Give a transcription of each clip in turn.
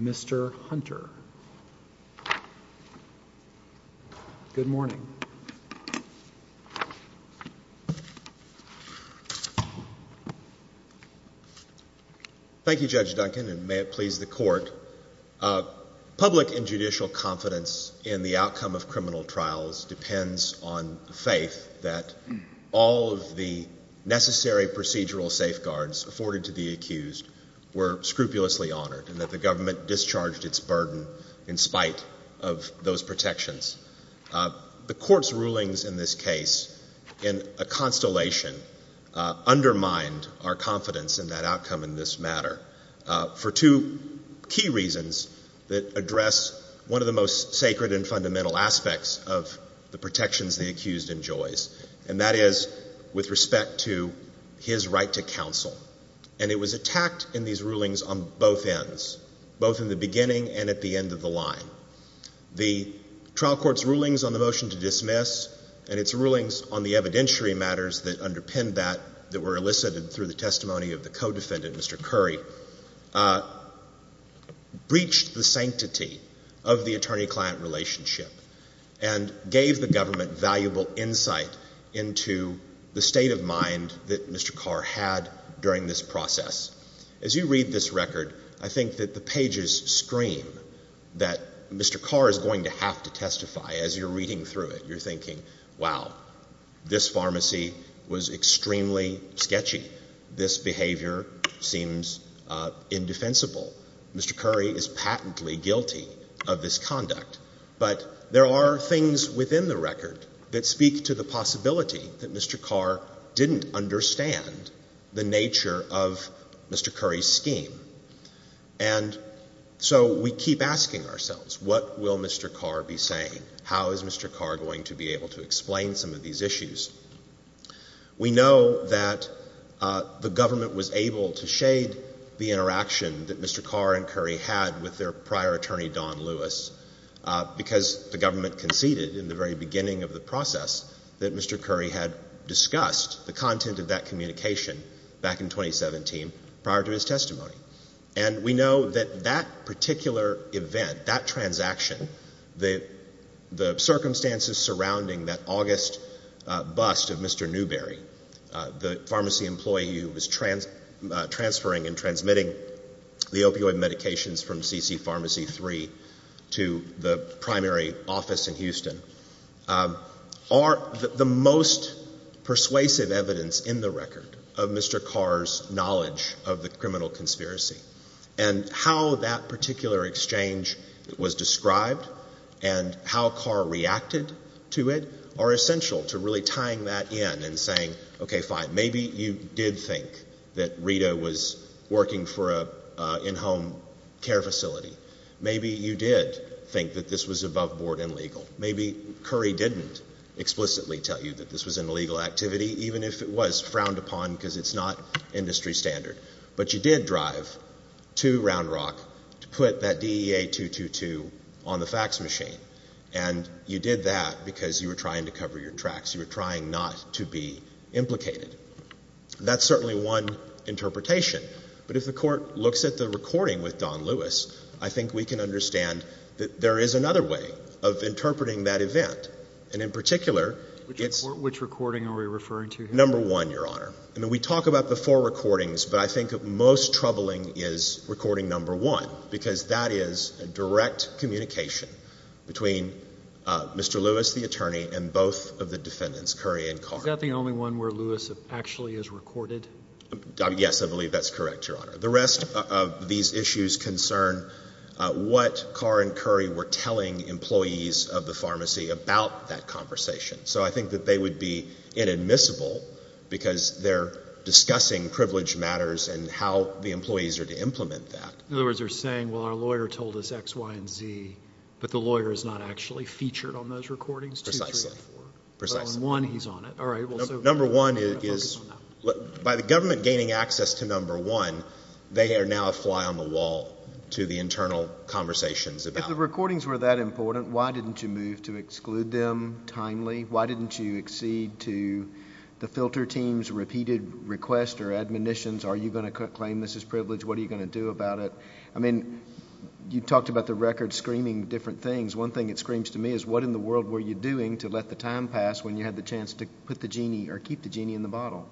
Mr. Hunter. Good morning. Thank you, Judge Duncan, and may it please the court. Public and judicial confidence in the outcome of criminal trials depends on the faith that all of the necessary procedural safeguards afforded to the accused were scrupulously honored and that the government discharged its burden in spite of those protections. The court's rulings in this case, in a constellation, undermined our confidence in that outcome in this matter for two key reasons that address one of the most sacred and fundamental aspects of the protections the accused enjoys, and that is with respect to his right to counsel. It was attacked in these rulings on both ends, both in the beginning and at the end of the line. The trial court's rulings on the motion to dismiss and its rulings on the evidentiary matters that underpinned that, that were elicited through the testimony of the co-defendant, Mr. Curry, breached the sanctity of the attorney-client relationship and gave the government valuable insight into the state of mind that Mr. Carr had during this process. As you read this record, I think that the pages scream that Mr. Carr is going to have to testify as you're reading through it. You're thinking, wow, this pharmacy was extremely sketchy. This behavior seems indefensible. Mr. Curry is patently guilty of this conduct. But there are things within the record that speak to the possibility that Mr. Carr didn't understand the nature of Mr. Curry's scheme. And so we keep asking ourselves, what will Mr. Carr be saying? How is Mr. Carr going to be able to explain some of these issues? We know that the government was able to shade the interaction that Mr. Carr and Curry had with their prior beginning of the process that Mr. Curry had discussed, the content of that communication back in 2017, prior to his testimony. And we know that that particular event, that transaction, the circumstances surrounding that August bust of Mr. Newberry, the pharmacy employee who was transferring and transmitting the opioid medications from C.C. Pharmacy III to the primary office in Houston, are the most persuasive evidence in the record of Mr. Carr's knowledge of the criminal conspiracy. And how that particular exchange was described and how Carr reacted to it are essential to really tying that in and saying, okay, fine, maybe you did think that Rita was working for an in-home care facility. Maybe you did think that this was above board and legal. Maybe Curry didn't explicitly tell you that this was an illegal activity, even if it was frowned upon because it's not industry standard. But you did drive to Round Rock to put that DEA 222 on the fax machine. And you did that because you were trying to cover your tracks. You were trying not to be implicated. That's certainly one interpretation. But if the Court looks at the recording with Don Lewis, I think we can understand that there is another way of interpreting that event. And in particular, it's — Which recording are we referring to here? Number one, Your Honor. I mean, we talk about the four recordings, but I think most troubling is recording number one, because that is a direct communication between Mr. Lewis, the attorney, and both of the defendants, Curry and Carr. Is that the only one where Lewis actually is recorded? Yes, I believe that's correct, Your Honor. The rest of these issues concern what Carr and Curry were telling employees of the pharmacy about that conversation. So I think that they would be inadmissible because they're discussing privilege matters and how the employees are to implement that. In other words, they're saying, well, our lawyer told us X, Y, and Z, but the lawyer is not actually featured on those recordings, two, three, or four. Precisely. But on one, he's on it. All right. Well, so — Number one is — We're going to focus on that. By the government gaining access to number one, they are now a fly on the wall to the internal conversations about — If the recordings were that important, why didn't you move to exclude them timely? Why didn't you exceed to the filter team's repeated request or admonitions? Are you going to claim this as privilege? What are you going to do about it? I mean, you talked about the record screaming different things. One thing it screams to me is, what in the world were you doing to let the time pass when you had the chance to put the genie or keep the genie in the bottle?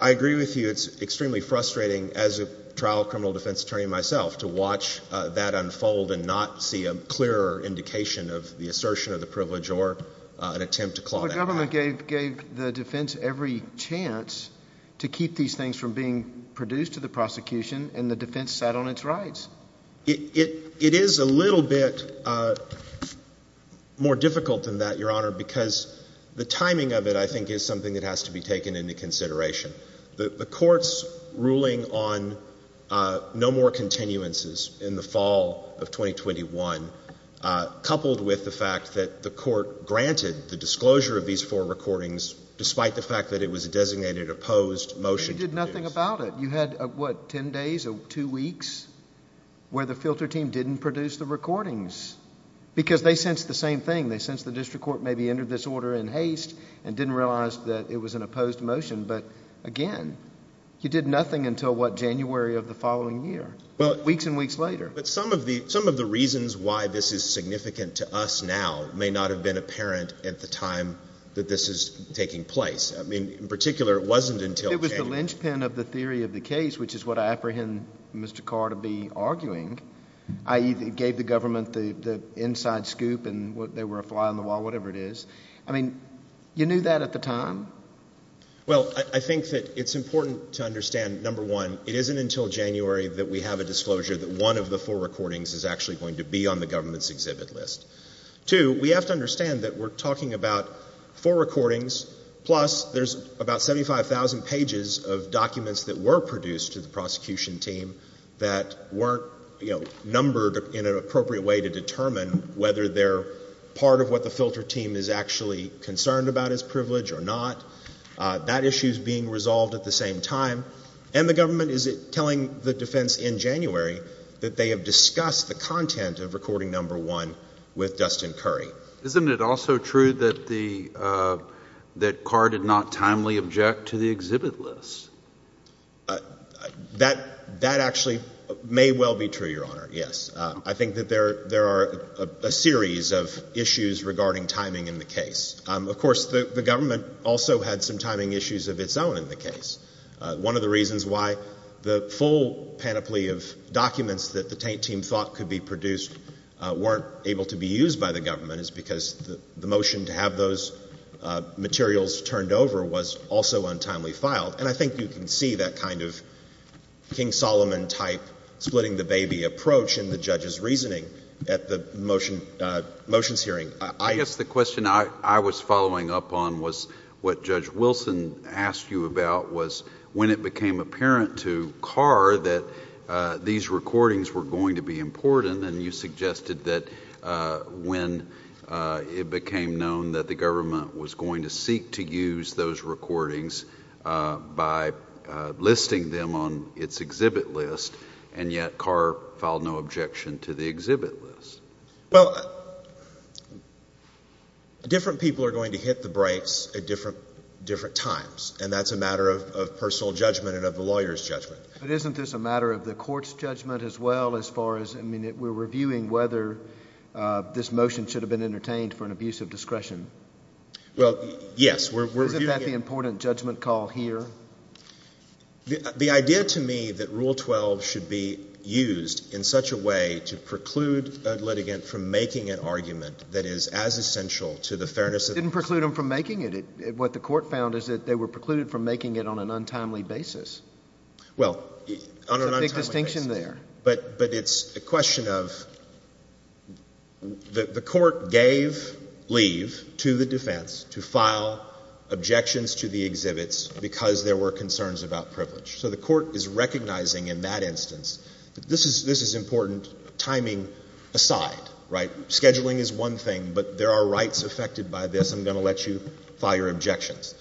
I agree with you. It's extremely frustrating, as a trial criminal defense attorney myself, to watch that unfold and not see a clearer indication of the assertion of the privilege or an attempt to claw that out. Well, the government gave the defense every chance to keep these things from being produced to the prosecution, and the defense sat on its rights. It is a little bit more difficult than that, Your Honor, because the timing of it, I think, is something that has to be taken into consideration. The court's ruling on no more continuances in the fall of 2021, coupled with the fact that the court granted the disclosure of these four recordings, despite the fact that it was a designated opposed motion to produce. But you did nothing about it. You had, what, ten days or two weeks where the filter team didn't produce the recordings, because they sensed the same thing. They sensed the district court maybe entered this order in haste and didn't realize that it was an opposed motion. But, again, you did nothing until, what, January of the following year, weeks and weeks later. But some of the reasons why this is significant to us now may not have been apparent at the time that this is taking place. I mean, in particular, it wasn't until January. It was the linchpin of the theory of the case, which is what I apprehend Mr. Carr to be arguing, i.e., it gave the government the inside scoop and they were a fly on the wall, whatever it is. I mean, you knew that at the time? Well, I think that it's important to understand, number one, it isn't until January that we have a disclosure that one of the four recordings is actually going to be on the government's exhibit list. Two, we have to understand that we're talking about four recordings, plus there's about 75,000 pages of documents that were produced to the prosecution team that weren't, you know, numbered in an appropriate way to determine whether they're part of what the filter team is actually concerned about as privilege or not. That issue is being resolved at the same time. And the government is telling the defense in January that they have discussed the content of recording number one with Dustin Curry. Isn't it also true that Carr did not timely object to the exhibit list? That actually may well be true, Your Honor, yes. I think that there are a series of issues regarding timing in the case. Of course, the government also had some timing issues of its own in the case. One of the reasons why the full panoply of documents that the taint team thought could be produced weren't able to be used by the government is because the motion to have those materials turned over was also untimely filed. And I think you can see that kind of King-Solomon-type splitting-the-baby approach in the judge's reasoning at the motion's hearing. I guess the question I was following up on was what Judge Wilson asked you about, was when it became apparent to Carr that these recordings were going to be important and you suggested that when it became known that the government was going to seek to use those recordings by listing them on its exhibit list, and yet Carr filed no objection to the motion. Well, different people are going to hit the brakes at different times, and that's a matter of personal judgment and of the lawyer's judgment. But isn't this a matter of the court's judgment as well, as far as, I mean, we're reviewing whether this motion should have been entertained for an abuse of discretion? Well, yes, we're reviewing it. Isn't that the important judgment call here? Well, the idea to me that Rule 12 should be used in such a way to preclude a litigant from making an argument that is as essential to the fairness of the case. It didn't preclude them from making it. What the court found is that they were precluded from making it on an untimely basis. Well, on an untimely basis. There's a big distinction there. But it's a question of the court gave leave to the defense to file objections to the exhibits because there were concerns about privilege. So the court is recognizing in that instance that this is important timing aside, right? Scheduling is one thing, but there are rights affected by this. I'm going to let you file your objections.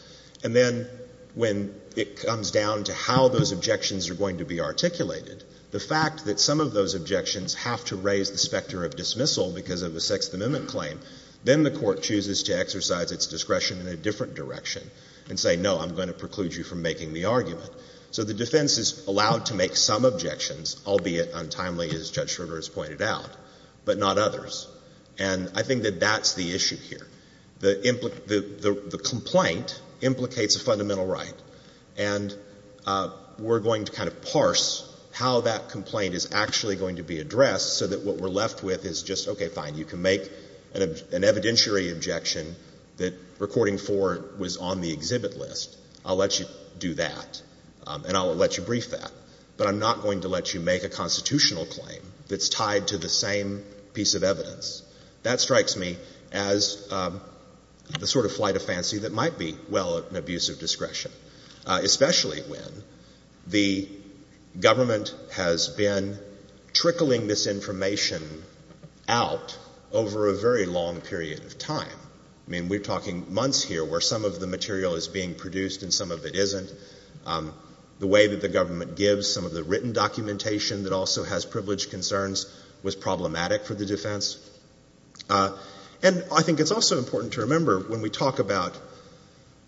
And then when it comes down to how those objections are going to be articulated, the fact that some of those objections have to raise the specter of dismissal because of a Sixth Amendment claim, then the court chooses to exercise its discretion in a different direction and say, no, I'm going to preclude you from making the argument. So the defense is allowed to make some objections, albeit untimely, as Judge Schroeder has pointed out, but not others. And I think that that's the issue here. The complaint implicates a fundamental right. And we're going to kind of parse how that complaint is actually going to be addressed so that what we're left with is just, okay, fine, you can make an evidentiary objection that recording four was on the exhibit list. I'll let you do that. And I'll let you brief that. But I'm not going to let you make a constitutional claim that's tied to the same piece of evidence. That strikes me as the sort of flight of fancy that might be, well, an abuse of discretion. Especially when the government has been trickling this information out over a very long period of time. I mean, we're talking months here where some of the material is being produced and some of it isn't. The way that the government gives some of the written documentation that also has privilege concerns was problematic for the defense. And I think it's also important to remember when we talk about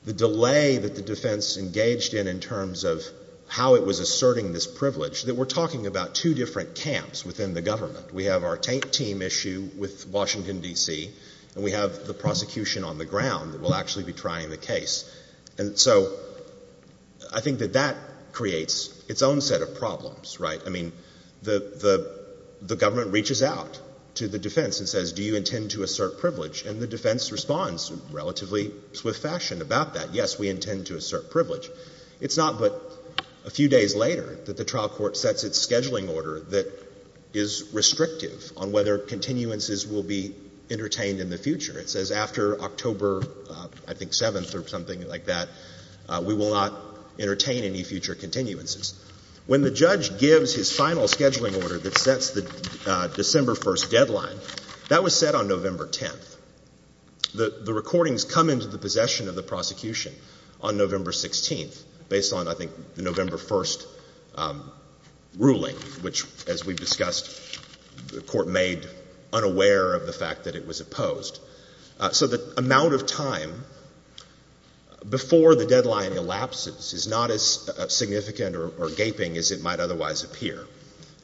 the delay that the defense engaged in in terms of how it was asserting this privilege, that we're talking about two different camps within the government. We have our team issue with Washington, D.C., and we have the prosecution on the ground that will actually be trying the case. And so I think that that creates its own set of problems, right? I mean, the government reaches out to the defense and says, do you intend to assert privilege? And the defense responds in relatively swift fashion about that. Yes, we intend to assert privilege. It's not but a few days later that the trial court sets its scheduling order that is restrictive on whether continuances will be entertained in the future. It says after October, I think, 7th or something like that, we will not entertain any future continuances. When the judge gives his final scheduling order that sets the December 1st deadline, that was set on November 10th. The recordings come into the possession of the prosecution on November 16th based on, I think, the November 1st ruling, which, as we've discussed, the court made unaware of the fact that it was opposed. So the amount of time before the deadline elapses is not as significant or gaping as it might otherwise appear.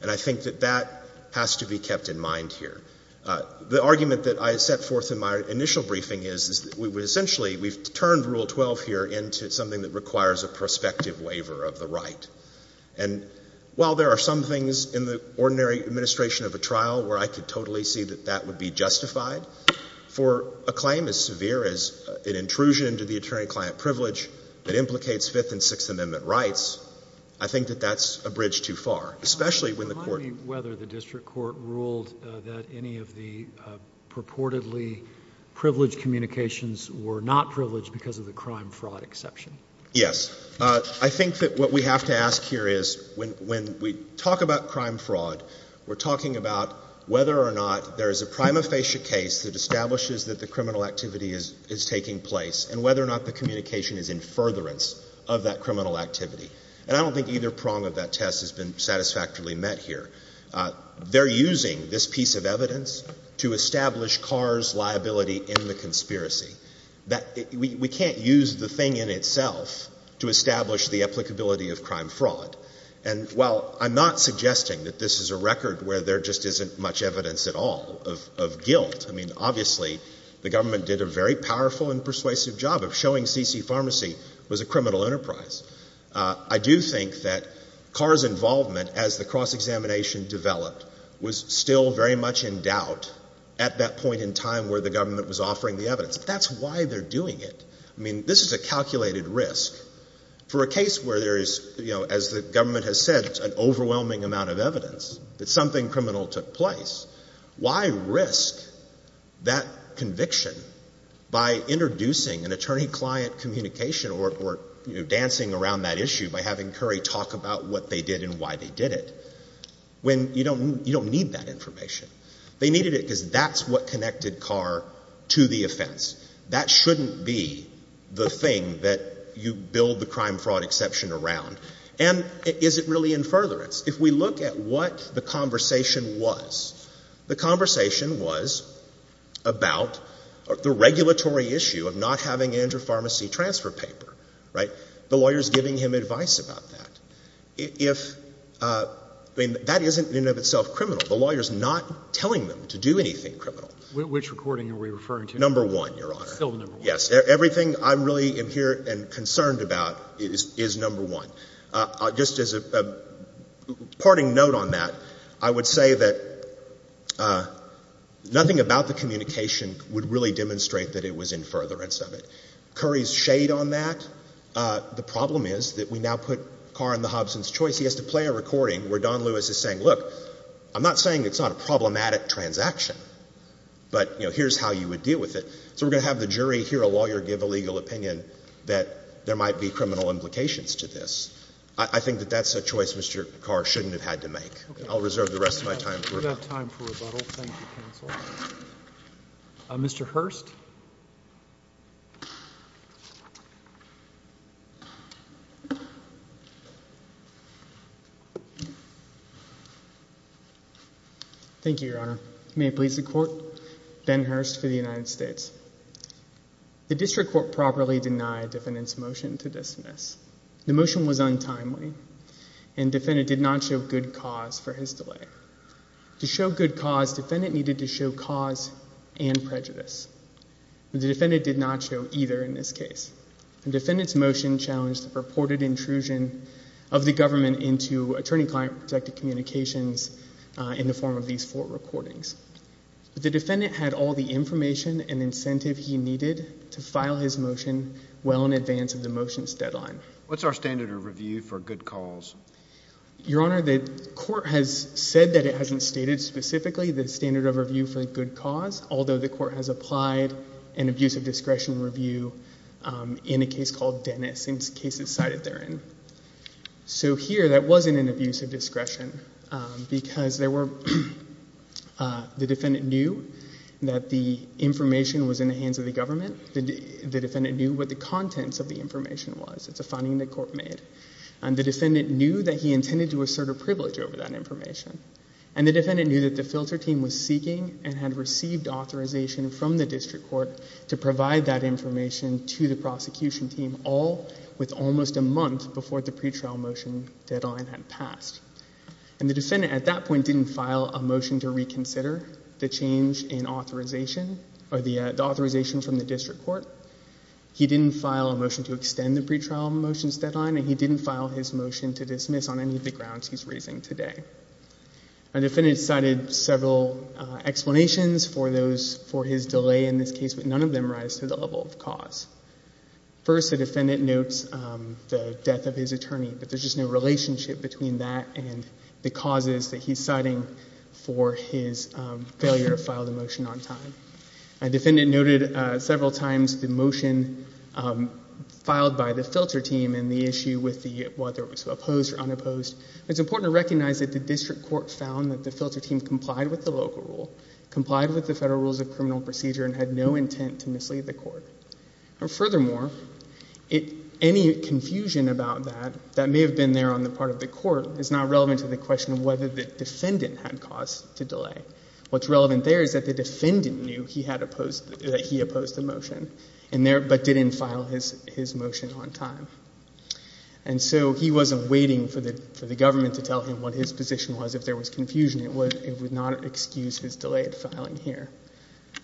And I think that that has to be kept in mind here. The argument that I set forth in my initial briefing is that we would essentially, we've turned Rule 12 here into something that requires a prospective waiver of the right. And while there are some things in the ordinary administration of a trial where I could totally see that that would be justified, for a claim as severe as an intrusion into the attorney-client privilege that implicates Fifth and Sixth Amendment rights, I think that that's a bridge too far, especially when the court— Well, remind me whether the district court ruled that any of the purportedly privileged communications were not privileged because of the crime-fraud exception. Yes. I think that what we have to ask here is, when we talk about crime-fraud, we're talking about whether or not there is a prima facie case that establishes that the criminal activity is taking place, and whether or not the communication is in furtherance of that criminal activity. And I don't think either prong of that test has been satisfactorily met here. They're using this piece of evidence to establish Carr's liability in the conspiracy. That we can't use the thing in itself to establish the applicability of crime-fraud. And while I'm not suggesting that this is a record where there just isn't much evidence at all of guilt, I mean, obviously, the government did a very powerful and persuasive job of showing C.C. Pharmacy was a criminal enterprise. I do think that Carr's involvement as the cross-examination developed was still very much in doubt at that point in time where the government was offering the evidence. But that's why they're doing it. I mean, this is a calculated risk. For a case where there is, as the government has said, an overwhelming amount of evidence that something criminal took place, why risk that conviction by introducing an attorney-client communication or dancing around that issue by having Curry talk about what they did and why they did it, when you don't need that information? They needed it because that's what connected Carr to the offense. That shouldn't be the thing that you build the crime-fraud exception around. And is it really in furtherance? If we look at what the conversation was, the conversation was about the regulatory issue of not having an inter-pharmacy transfer paper, right? The lawyer's giving him advice about that. If — I mean, that isn't in and of itself criminal. The lawyer's not telling them to do anything criminal. Which recording are we referring to? Number one, Your Honor. Still number one. Yes. Everything I really am here and concerned about is number one. Just as a parting note on that, I would say that nothing about the communication would really demonstrate that it was in furtherance of it. Curry's shade on that, the problem is that we now put Carr in the Hobson's choice. He has to play a recording where Don Lewis is saying, look, I'm not saying it's not a problematic transaction, but, you know, here's how you would deal with it. So we're going to have the jury hear a lawyer give a legal opinion that there might be criminal implications to this. I think that that's a choice Mr. Carr shouldn't have had to make. I'll reserve the rest of my time for rebuttal. We don't have time for rebuttal. Thank you, counsel. Mr. Hurst? Thank you, Your Honor. May it please the Court, Ben Hurst for the United States. The District Court properly denied the defendant's motion to dismiss. The motion was untimely, and the defendant did not show good cause for his delay. To show good cause, the defendant needed to show cause and prejudice. The defendant did not show either in this case. The defendant's motion challenged the purported intrusion of the government into attorney-client protected communications in the form of these four recordings. The defendant had all the information and incentive he needed to file his motion well in advance of the motion's deadline. What's our standard of review for good cause? Your Honor, the Court has said that it hasn't stated specifically the standard of review for good cause, although the Court has applied an abuse of discretion review in a case called Dennis, in cases cited therein. So here that wasn't an abuse of discretion because there were, the defendant knew that the information was in the hands of the government. The defendant knew what the contents of the information was. It's a finding the Court made. And the defendant knew that he intended to assert a privilege over that information. And the defendant knew that the filter team was seeking and had received authorization from the District Court to provide that information to the prosecution team, all with almost a month before the pretrial motion deadline had passed. And the defendant at that point didn't file a motion to reconsider the change in authorization, or the authorization from the District Court. He didn't file a motion to extend the pretrial motion's deadline, and he didn't file his motion to dismiss on any of the grounds he's raising today. Our defendant cited several explanations for those, for his delay in this case, but none of them rise to the level of cause. First, the defendant notes the death of his attorney, but there's just no relationship between that and the causes that he's citing for his failure to file the motion on time. The defendant noted several times the motion filed by the filter team and the issue with the, whether it was opposed or unopposed. It's important to recognize that the District Court found that the filter team complied with the local procedure and had no intent to mislead the court. And furthermore, it, any confusion about that, that may have been there on the part of the court, is not relevant to the question of whether the defendant had cause to delay. What's relevant there is that the defendant knew he had opposed, that he opposed the motion, and there, but didn't file his motion on time. And so he wasn't waiting for the, for the government to tell him what his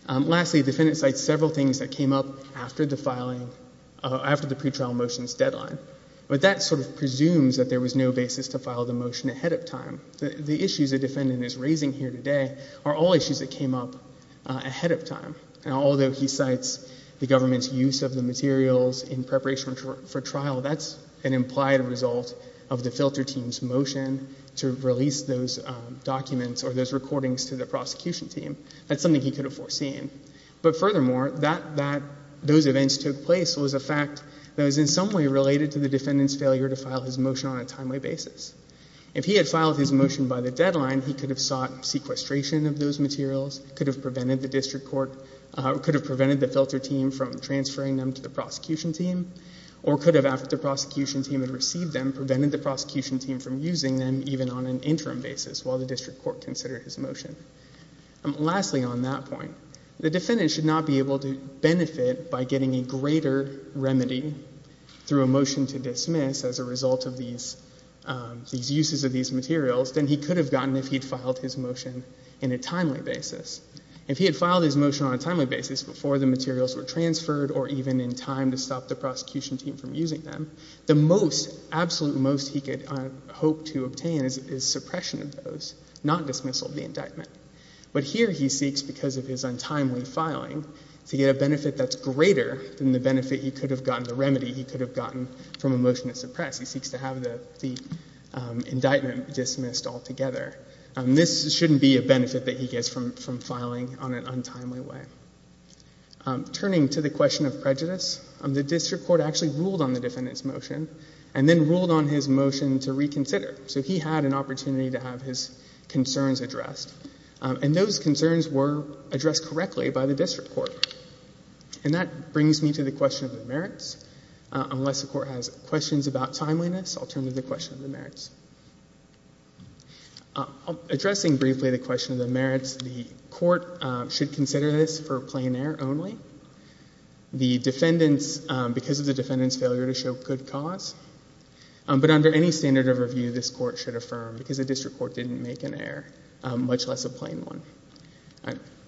Lastly, the defendant cites several things that came up after the filing, after the pretrial motion's deadline. But that sort of presumes that there was no basis to file the motion ahead of time. The issues the defendant is raising here today are all issues that came up ahead of time. And although he cites the government's use of the materials in preparation for trial, that's an implied result of the filter team's motion to release those documents or those recordings to the prosecution team. That's something he could have foreseen. But furthermore, that, that, those events took place was a fact that was in some way related to the defendant's failure to file his motion on a timely basis. If he had filed his motion by the deadline, he could have sought sequestration of those materials, could have prevented the district court, could have prevented the filter team from transferring them to the prosecution team, or could have, after the prosecution team had received them, prevented the prosecution team from using them even on an interim basis while the district court considered his motion. Lastly on that point, the defendant should not be able to benefit by getting a greater remedy through a motion to dismiss as a result of these, these uses of these materials than he could have gotten if he'd filed his motion in a timely basis. If he had filed his motion on a timely basis before the materials were transferred or even in time to stop the prosecution team from using them, the most, absolute most he could hope to obtain is suppression of those, not dismissal of the indictment. But here he seeks, because of his untimely filing, to get a benefit that's greater than the benefit he could have gotten, the remedy he could have gotten from a motion to suppress. He seeks to have the, the indictment dismissed altogether. This shouldn't be a benefit that he gets from, from filing on an untimely way. Turning to the question of prejudice, the district court actually ruled on the defendant's motion and then ruled on his motion to reconsider. So he had an opportunity to have his concerns addressed. And those concerns were addressed correctly by the district court. And that brings me to the question of the merits. Unless the court has questions about timeliness, I'll, addressing briefly the question of the merits, the court should consider this for plain error only. The defendants, because of the defendant's failure to show good cause, but under any standard of review, this court should affirm because the district court didn't make an error, much less a plain one.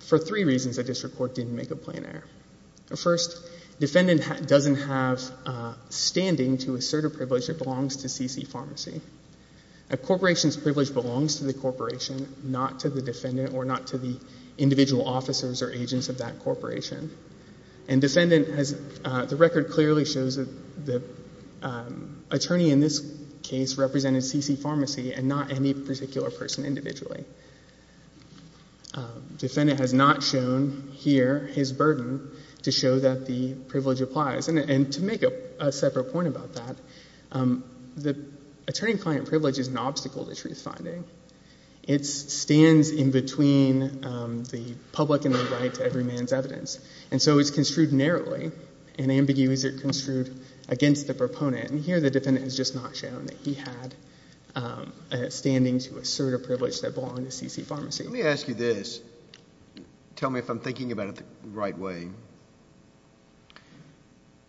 For three reasons the district court didn't make a plain error. First, defendant doesn't have standing to assert a privilege that belongs to C.C. Pharmacy. A corporation's privilege belongs to the corporation, not to the defendant or not to the individual officers or agents of that corporation. And defendant has, the record clearly shows that the attorney in this case represented C.C. Pharmacy and not any particular person individually. Defendant has not shown here his burden to show that the privilege applies. And to make a separate point about that, the attorney-client privilege is an obstacle to truth-finding. It stands in between the public and the right to every man's evidence. And so it's construed narrowly, and ambiguously construed against the proponent. And here the defendant has just not shown that he had a standing to assert a privilege that belonged to C.C. Pharmacy. Let me ask you this. Tell me if I'm thinking about it the right way.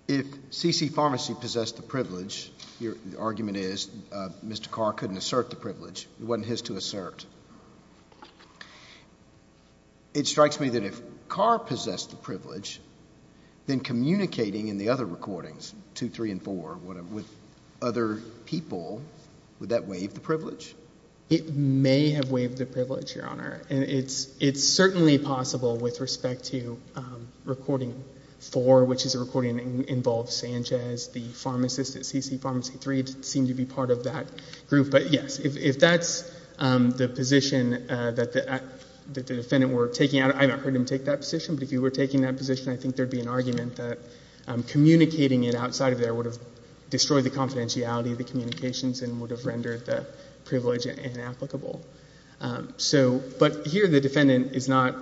If C.C. Pharmacy possessed the privilege, the argument is Mr. Carr couldn't assert the privilege. It wasn't his to assert. It strikes me that if Carr possessed the privilege, then communicating in the other recordings, 2, 3, and 4, with other people, would that waive the privilege? It may have waived the privilege, Your Honor. It's certainly possible with respect to recording 4, which is a recording that involves Sanchez, the pharmacist at C.C. Pharmacy, 3 seemed to be part of that group. But yes, if that's the position that the defendant were taking, I haven't heard him take that position, but if he were taking that position, I think there would be an argument that communicating it outside of there would have destroyed the confidentiality of the communications and would have rendered the privilege inapplicable. So, but here the defendant is not,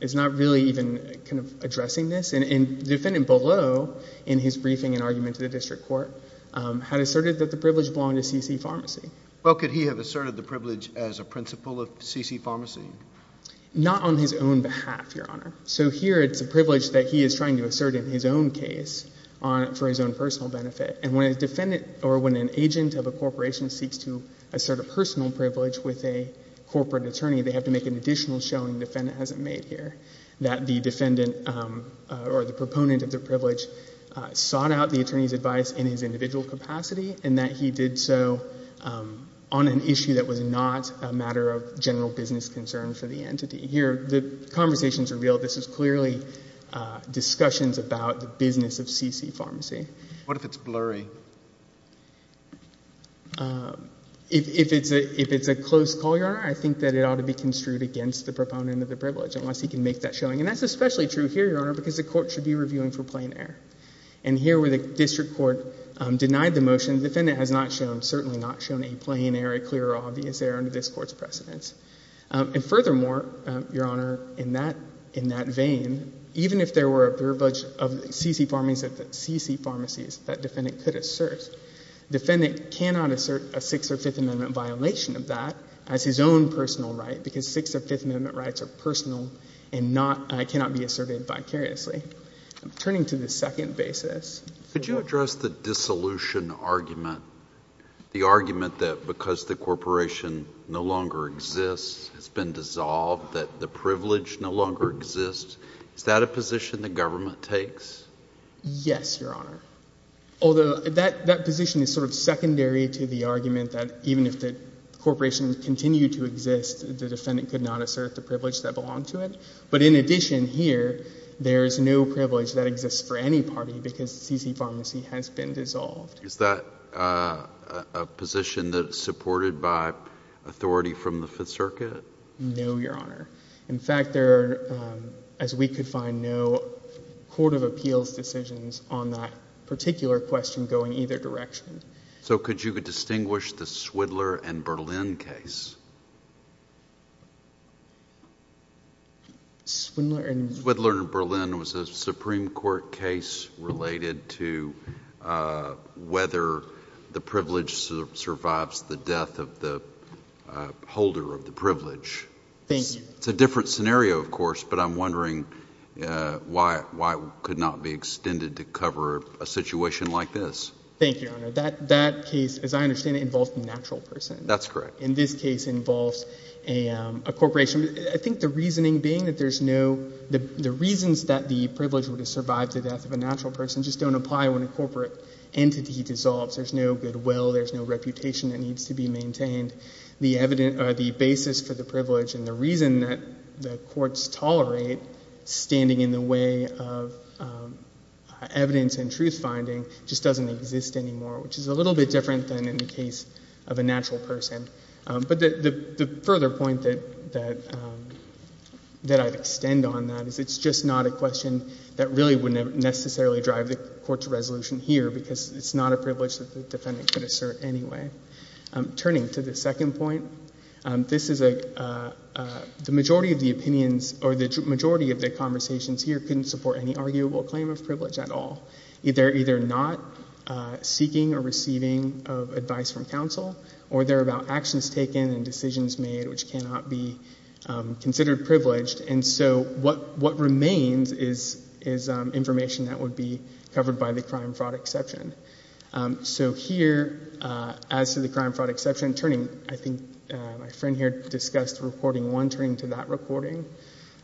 is not really even kind of addressing this. And the defendant below, in his briefing and argument to the district court, had asserted that the privilege belonged to C.C. Pharmacy. Well could he have asserted the privilege as a principal of C.C. Pharmacy? Not on his own behalf, Your Honor. So here it's a privilege that he is trying to assert in his own case on, for his own personal benefit. And when a defendant, or when an agent of a corporation seeks to assert a personal privilege with a corporate attorney, they have to make an additional showing the defendant hasn't made here. That the defendant, or the proponent of the privilege, sought out the attorney's advice in his individual capacity, and that he did so on an issue that was not a matter of general business concern for the entity. Here, the conversations are real. This is clearly discussions about the business of C.C. Pharmacy. What if it's blurry? If, if it's a, if it's a close call, Your Honor, I think that it ought to be construed against the proponent of the privilege, unless he can make that showing. And that's especially true here, Your Honor, because the court should be reviewing for plain error. And here where the district court denied the motion, the defendant has not shown, certainly not shown a plain error, a clear or obvious error under this court's precedence. And furthermore, Your Honor, in that, in that vein, even if there were a privilege of C.C. Pharmacy, C.C. Pharmacy, that defendant could assert, the defendant cannot assert a Sixth or Fifth Amendment violation of that as his own personal right, because Sixth or Fifth Amendment rights are personal and not, cannot be asserted vicariously. Turning to the second basis. Could you address the dissolution argument, the argument that because the corporation no longer exists, it's been dissolved, that the privilege no longer exists? Is that a position the government takes? Yes, Your Honor. Although that, that position is sort of secondary to the argument that even if the corporation continued to exist, the defendant could not assert the privilege that belonged to it. But in addition here, there is no privilege that exists for any party because C.C. Pharmacy has been dissolved. Is that a position that is supported by authority from the Fifth Circuit? No, Your Honor. In fact, there are, as we could find, no court of appeals decisions on that particular question going either direction. So could you distinguish the Swindler and Berlin case? Swindler and...... whether the privilege survives the death of the holder of the privilege. Thank you. It's a different scenario, of course, but I'm wondering why, why it could not be extended to cover a situation like this. Thank you, Your Honor. That, that case, as I understand it, involves a natural person. That's correct. And this case involves a, a corporation. I think the reasoning being that there's no, the reasons that the privilege would have survived the death of a natural person just don't apply when a corporate entity dissolves. There's no goodwill. There's no reputation that needs to be maintained. The evidence, or the basis for the privilege and the reason that the courts tolerate standing in the way of evidence and truth-finding just doesn't exist anymore, which is a little bit different than in the case of a natural person. But the, the, the further point that, that, that I'd extend on that is it's just not a question that really would necessarily drive the court's resolution here because it's not a privilege that the defendant could assert anyway. Turning to the second point, this is a, the majority of the opinions, or the majority of the conversations here couldn't support any arguable claim of privilege at all. They're either not seeking or receiving advice from counsel, or they're about actions taken and actions is, is information that would be covered by the crime-fraud exception. So here, as to the crime-fraud exception, turning, I think my friend here discussed reporting one, turning to that recording.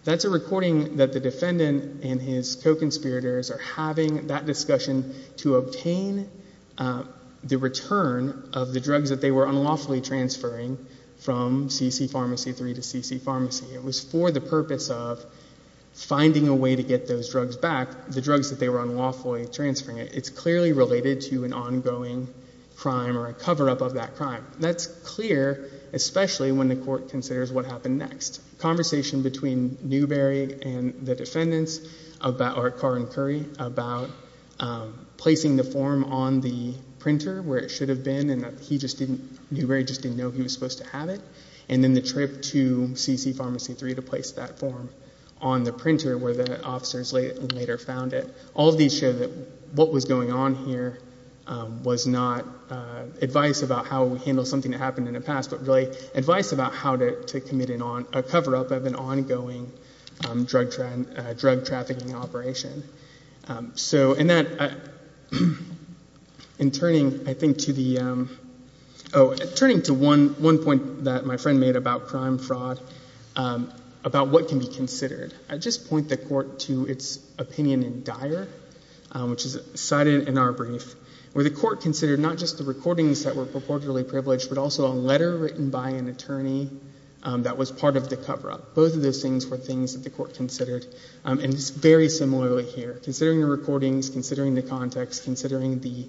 That's a recording that the defendant and his co-conspirators are having that discussion to obtain the return of the drugs that they were unlawfully transferring from C.C. Pharmacy 3 to C.C. Pharmacy. It was for the purpose of finding a way to get those drugs back, the drugs that they were unlawfully transferring. It's clearly related to an ongoing crime or a cover-up of that crime. That's clear, especially when the court considers what happened next. Conversation between Newbery and the defendants about, or Carr and Curry, about placing the form on the printer where it should have been and that he just didn't, Newbery just didn't know he was supposed to have it. And then the trip to C.C. Pharmacy 3 to place that form on the printer where the officers later found it. All of these show that what was going on here was not advice about how we handle something that happened in the past, but really advice about how to commit a cover-up of an ongoing drug trafficking operation. So in that, in turning, I think to the, oh, turning to one point that my friend made about crime fraud, about what can be considered. I just point the court to its opinion in Dyer, which is cited in our brief, where the court considered not just the recordings that were purportedly privileged, but also a letter written by an attorney that was part of the cover-up. Both of those things were things that the court considered. And it's very similarly here. Considering the recordings, considering the context, considering the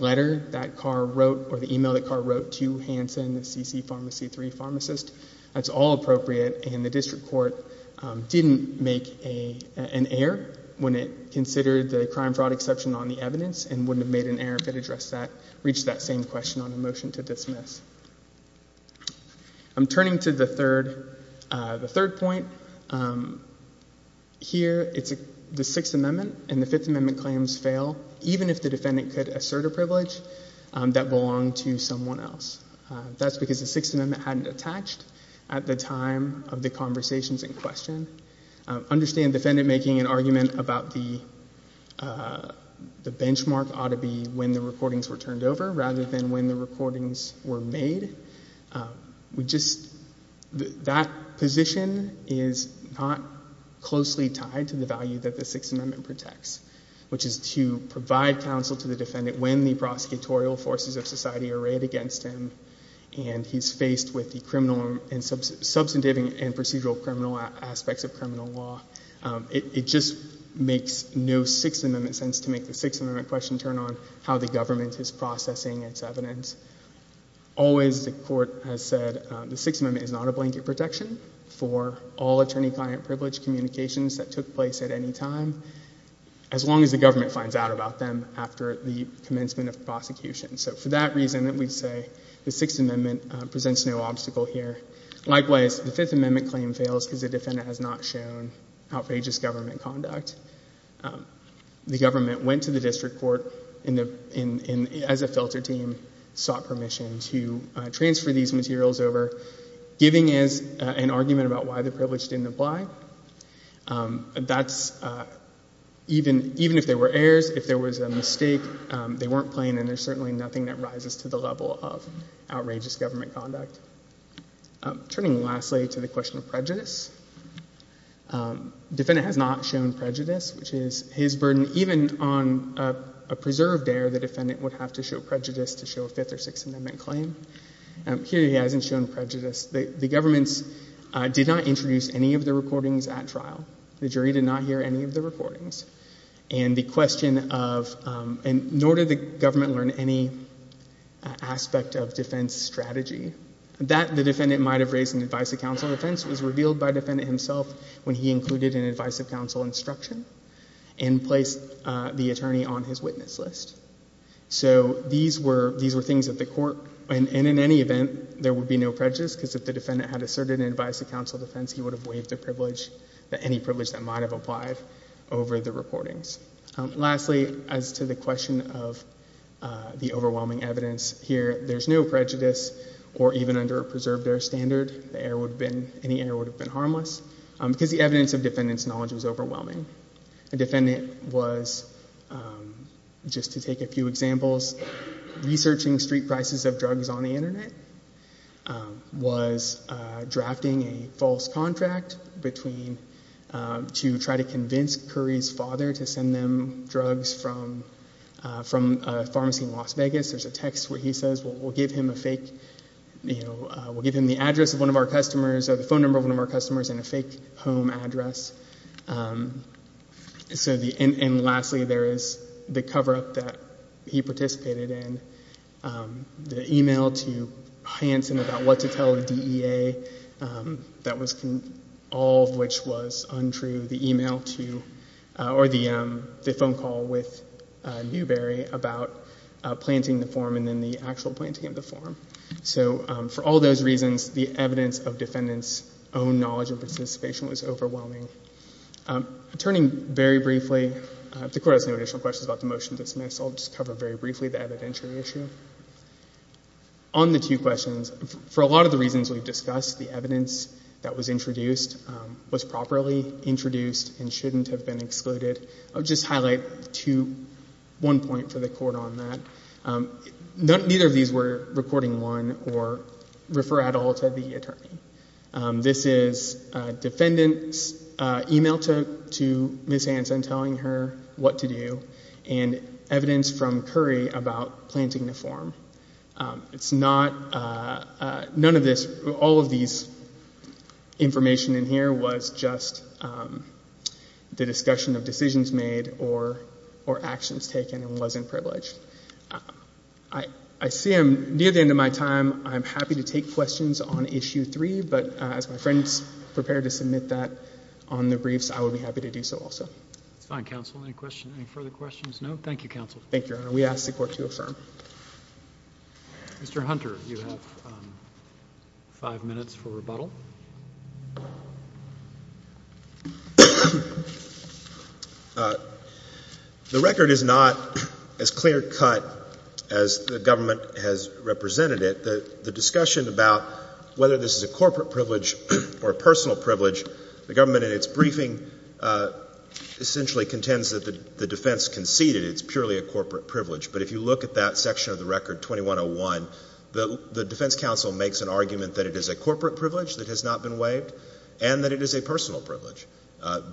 letter that Carr wrote or the email that Carr wrote to Hanson, the C.C. Pharmacy 3 pharmacist, that's all appropriate. And the district court didn't make an error when it considered the crime fraud exception on the evidence and wouldn't have made an error if it addressed that, reached that same question on a motion to dismiss. I'm turning to the third point here. It's the Sixth Amendment and the Fifth Amendment claims fail even if the defendant could assert a privilege that belonged to someone else. That's because the Sixth Amendment hadn't attached at the time of the conversations in question. Understand defendant making an argument about the benchmark ought to be when the recordings were turned over rather than when the recordings were made. We just, that position is not closely tied to the value that the Sixth Amendment protects, which is to provide counsel to the defendant when the prosecutorial forces of society are arrayed against him and he's faced with the criminal and substantive and procedural criminal aspects of criminal law. It just makes no Sixth Amendment sense to make the Sixth Amendment question turn on how the government is processing its evidence. Always the court has said the Sixth Amendment protection for all attorney-client privilege communications that took place at any time as long as the government finds out about them after the commencement of prosecution. So for that reason that we say the Sixth Amendment presents no obstacle here. Likewise, the Fifth Amendment claim fails because the defendant has not shown outrageous government conduct. The government went to the district court as a filter team, sought permission to transfer these materials over, giving us an argument about why the privilege didn't apply. That's even if there were errors, if there was a mistake, they weren't plain and there's certainly nothing that rises to the level of outrageous government conduct. Turning lastly to the question of prejudice, defendant has not shown prejudice, which is his burden. Even on a preserved error, the defendant would have to show prejudice to the court. Here he hasn't shown prejudice. The government did not introduce any of the recordings at trial. The jury did not hear any of the recordings. And the question of — nor did the government learn any aspect of defense strategy. That the defendant might have raised in the advice of counsel defense was revealed by the defendant himself when he included an advice of counsel instruction and placed the attorney on his witness list. So these were things that the court — and in any event, there would be no prejudice because if the defendant had asserted an advice of counsel defense, he would have waived the privilege, any privilege that might have applied over the recordings. Lastly, as to the question of the overwhelming evidence, here there's no prejudice or even under a preserved error standard, any error would have been harmless because the evidence of defendant's knowledge was overwhelming. A defendant was — just to take a few examples — researching street prices of drugs on the Internet, was drafting a false contract between — to try to convince Curry's father to send them drugs from a pharmacy in Las Vegas. There's a text where he says, we'll give him a fake — you know, we'll give him the address of one of our customers or the phone number of one of our customers and a fake home address. So the — and lastly, there is the cover-up that he participated in, the e-mail to Hanson about what to tell the DEA, that was — all of which was untrue, the e-mail to — or the phone call with Newberry about planting the form and then the actual planting of the form. So for all those reasons, the evidence of defendant's own knowledge and participation was overwhelming. Turning very briefly — the Court has no additional questions about the motion to dismiss, so I'll just cover very briefly the evidentiary issue. On the two questions, for a lot of the reasons we've discussed, the evidence that was introduced was properly introduced and shouldn't have been excluded. I'll just highlight two — one point for the Court on that. Neither of these were recording one or refer at all to the attorney. This is defendant's e-mail to Ms. Hanson telling her what to do and evidence from Curry about planting the form. It's not — none of this — all of this information in here was just the discussion of decisions made or actions taken and wasn't privileged. I see I'm near the end of my time. I'm happy to take questions on Issue 3, but as my friend's prepared to submit that on the briefs, I would be happy to do so also. That's fine, Counsel. Any questions — any further questions? No? Thank you, Counsel. Thank you, Your Honor. We ask the Court to affirm. Mr. Hunter, you have five minutes for rebuttal. The record is not as clear-cut as the government has represented it. The discussion about whether this is a corporate privilege or a personal privilege, the government in its briefing essentially contends that the defense conceded it's purely a corporate privilege. But if you look at that section of the record, 2101, the defense counsel makes an argument that it is a corporate privilege that has not been waived and that it is a personal privilege.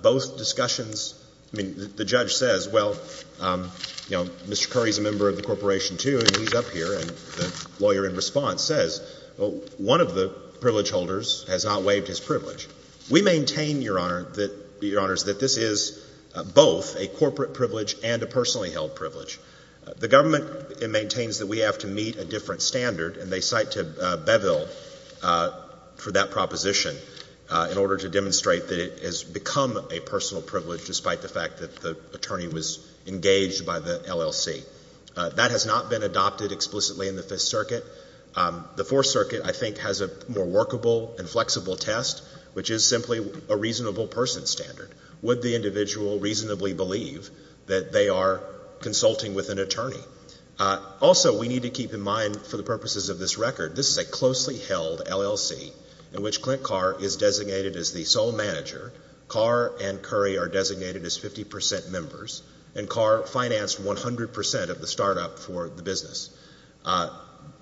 Both discussions — I mean, the judge says, well, you know, Mr. Curry's a member of the Corporation, too, and he's up here, and the lawyer in response says, well, one of the privilege holders has not waived his privilege. We maintain, Your Honor, that — Your Honors, this is both a corporate privilege and a personally held privilege. The government maintains that we have to meet a different standard, and they cite Beville for that proposition in order to demonstrate that it has become a personal privilege despite the fact that the attorney was engaged by the LLC. That has not been adopted explicitly in the Fifth Circuit. The Fourth Circuit, I think, has a more workable and flexible test, which is simply a reasonable person standard. Would the individual reasonably believe that they are consulting with an attorney? Also, we need to keep in mind, for the purposes of this record, this is a closely held LLC in which Clint Carr is designated as the sole manager, Carr and Curry are designated as 50 percent members, and Carr financed 100 percent of the startup for the business.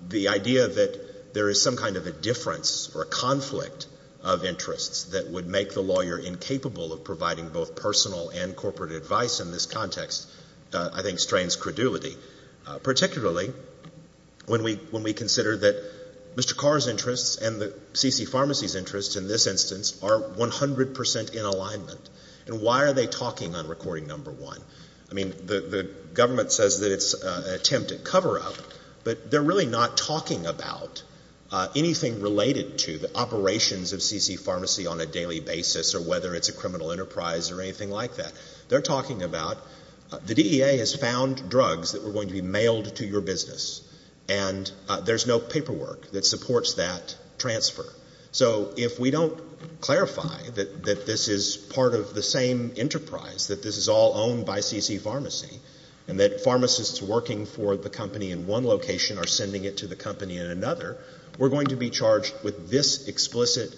The idea that there is some kind of a difference or a conflict of interests that would make the lawyer incapable of providing both personal and corporate advice in this context, I think, strains credulity, particularly when we consider that Mr. Carr's interests and the C.C. Pharmacy's interests in this instance are 100 percent in alignment. And why are they talking on recording number one? I mean, the government says that it's an attempt at cover-up, but they're really not talking about anything related to the operations of a pharmacist or whether it's a criminal enterprise or anything like that. They're talking about the DEA has found drugs that were going to be mailed to your business, and there's no paperwork that supports that transfer. So if we don't clarify that this is part of the same enterprise, that this is all owned by C.C. Pharmacy, and that pharmacists working for the company in one location are sending it to the company in another, we're going to be charged with this explicit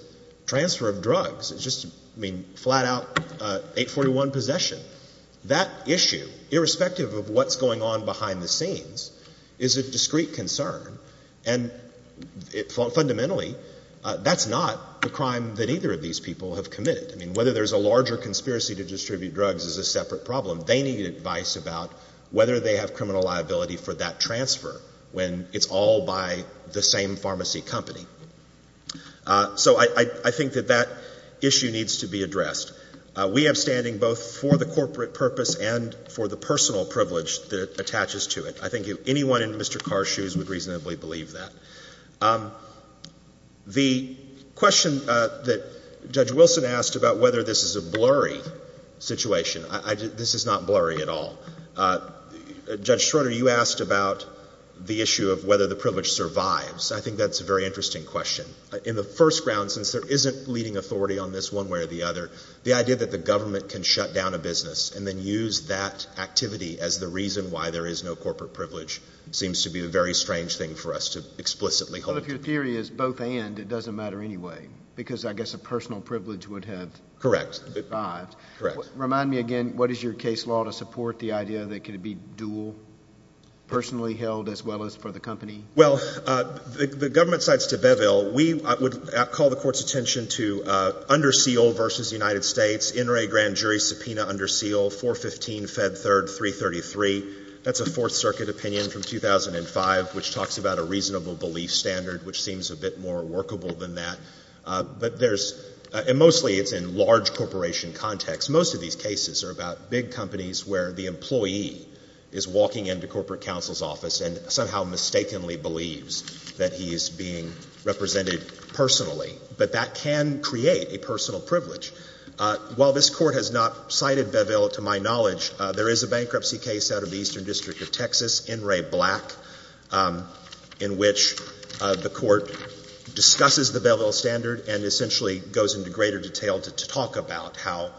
transfer of drugs. It's just, I mean, flat-out 841 possession. That issue, irrespective of what's going on behind the scenes, is a discreet concern. And fundamentally, that's not the crime that either of these people have committed. I mean, whether there's a larger conspiracy to distribute drugs is a separate problem. They need advice about whether they have criminal liability for that transfer when it's all by the same pharmacy company. So I think that that issue needs to be addressed. We have standing both for the corporate purpose and for the personal privilege that attaches to it. I think anyone in Mr. Carr's shoes would reasonably believe that. The question that Judge Wilson asked about whether this is a blurry situation, this is not blurry at all. Judge Schroeder, you asked about the issue of whether the privilege survives. I think that's a very interesting question. In the first round, since there isn't leading authority on this one way or the other, the idea that the government can shut down a business and then use that activity as the reason why there is no corporate privilege seems to be a very strange thing for us to explicitly hold. Well, if your theory is both and, it doesn't matter anyway, because I guess a personal privilege would have survived. Correct. Correct. Remind me again, what is your case law to support the idea that it could be dual, personally held as well as for the company? Well, the government cites De Beville. We would call the Court's attention to Underseal v. United States, In re Grand Jury Subpoena Underseal, 415 Fed 3rd, 333. That's a Fourth Circuit opinion from 2005, which talks about a reasonable belief standard, which seems a bit more workable than that. But there's, and mostly it's in large corporation context. Most of these cases are about big companies where the employee is walking into corporate counsel's office and somehow mistakenly believes that he is being represented personally. But that can create a personal privilege. While this Court has not cited Beville, to my knowledge, there is a bankruptcy case out of the Eastern District of Texas, In re Black, in which the Court discusses the Beville standard and essentially goes into greater detail to how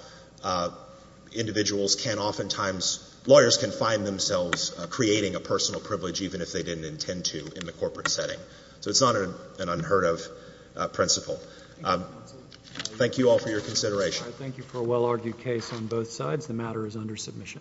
individuals can oftentimes, lawyers can find themselves creating a personal privilege even if they didn't intend to in the corporate setting. So it's not an unheard of principle. Thank you all for your consideration. Thank you for a well-argued case on both sides. The matter is under submission.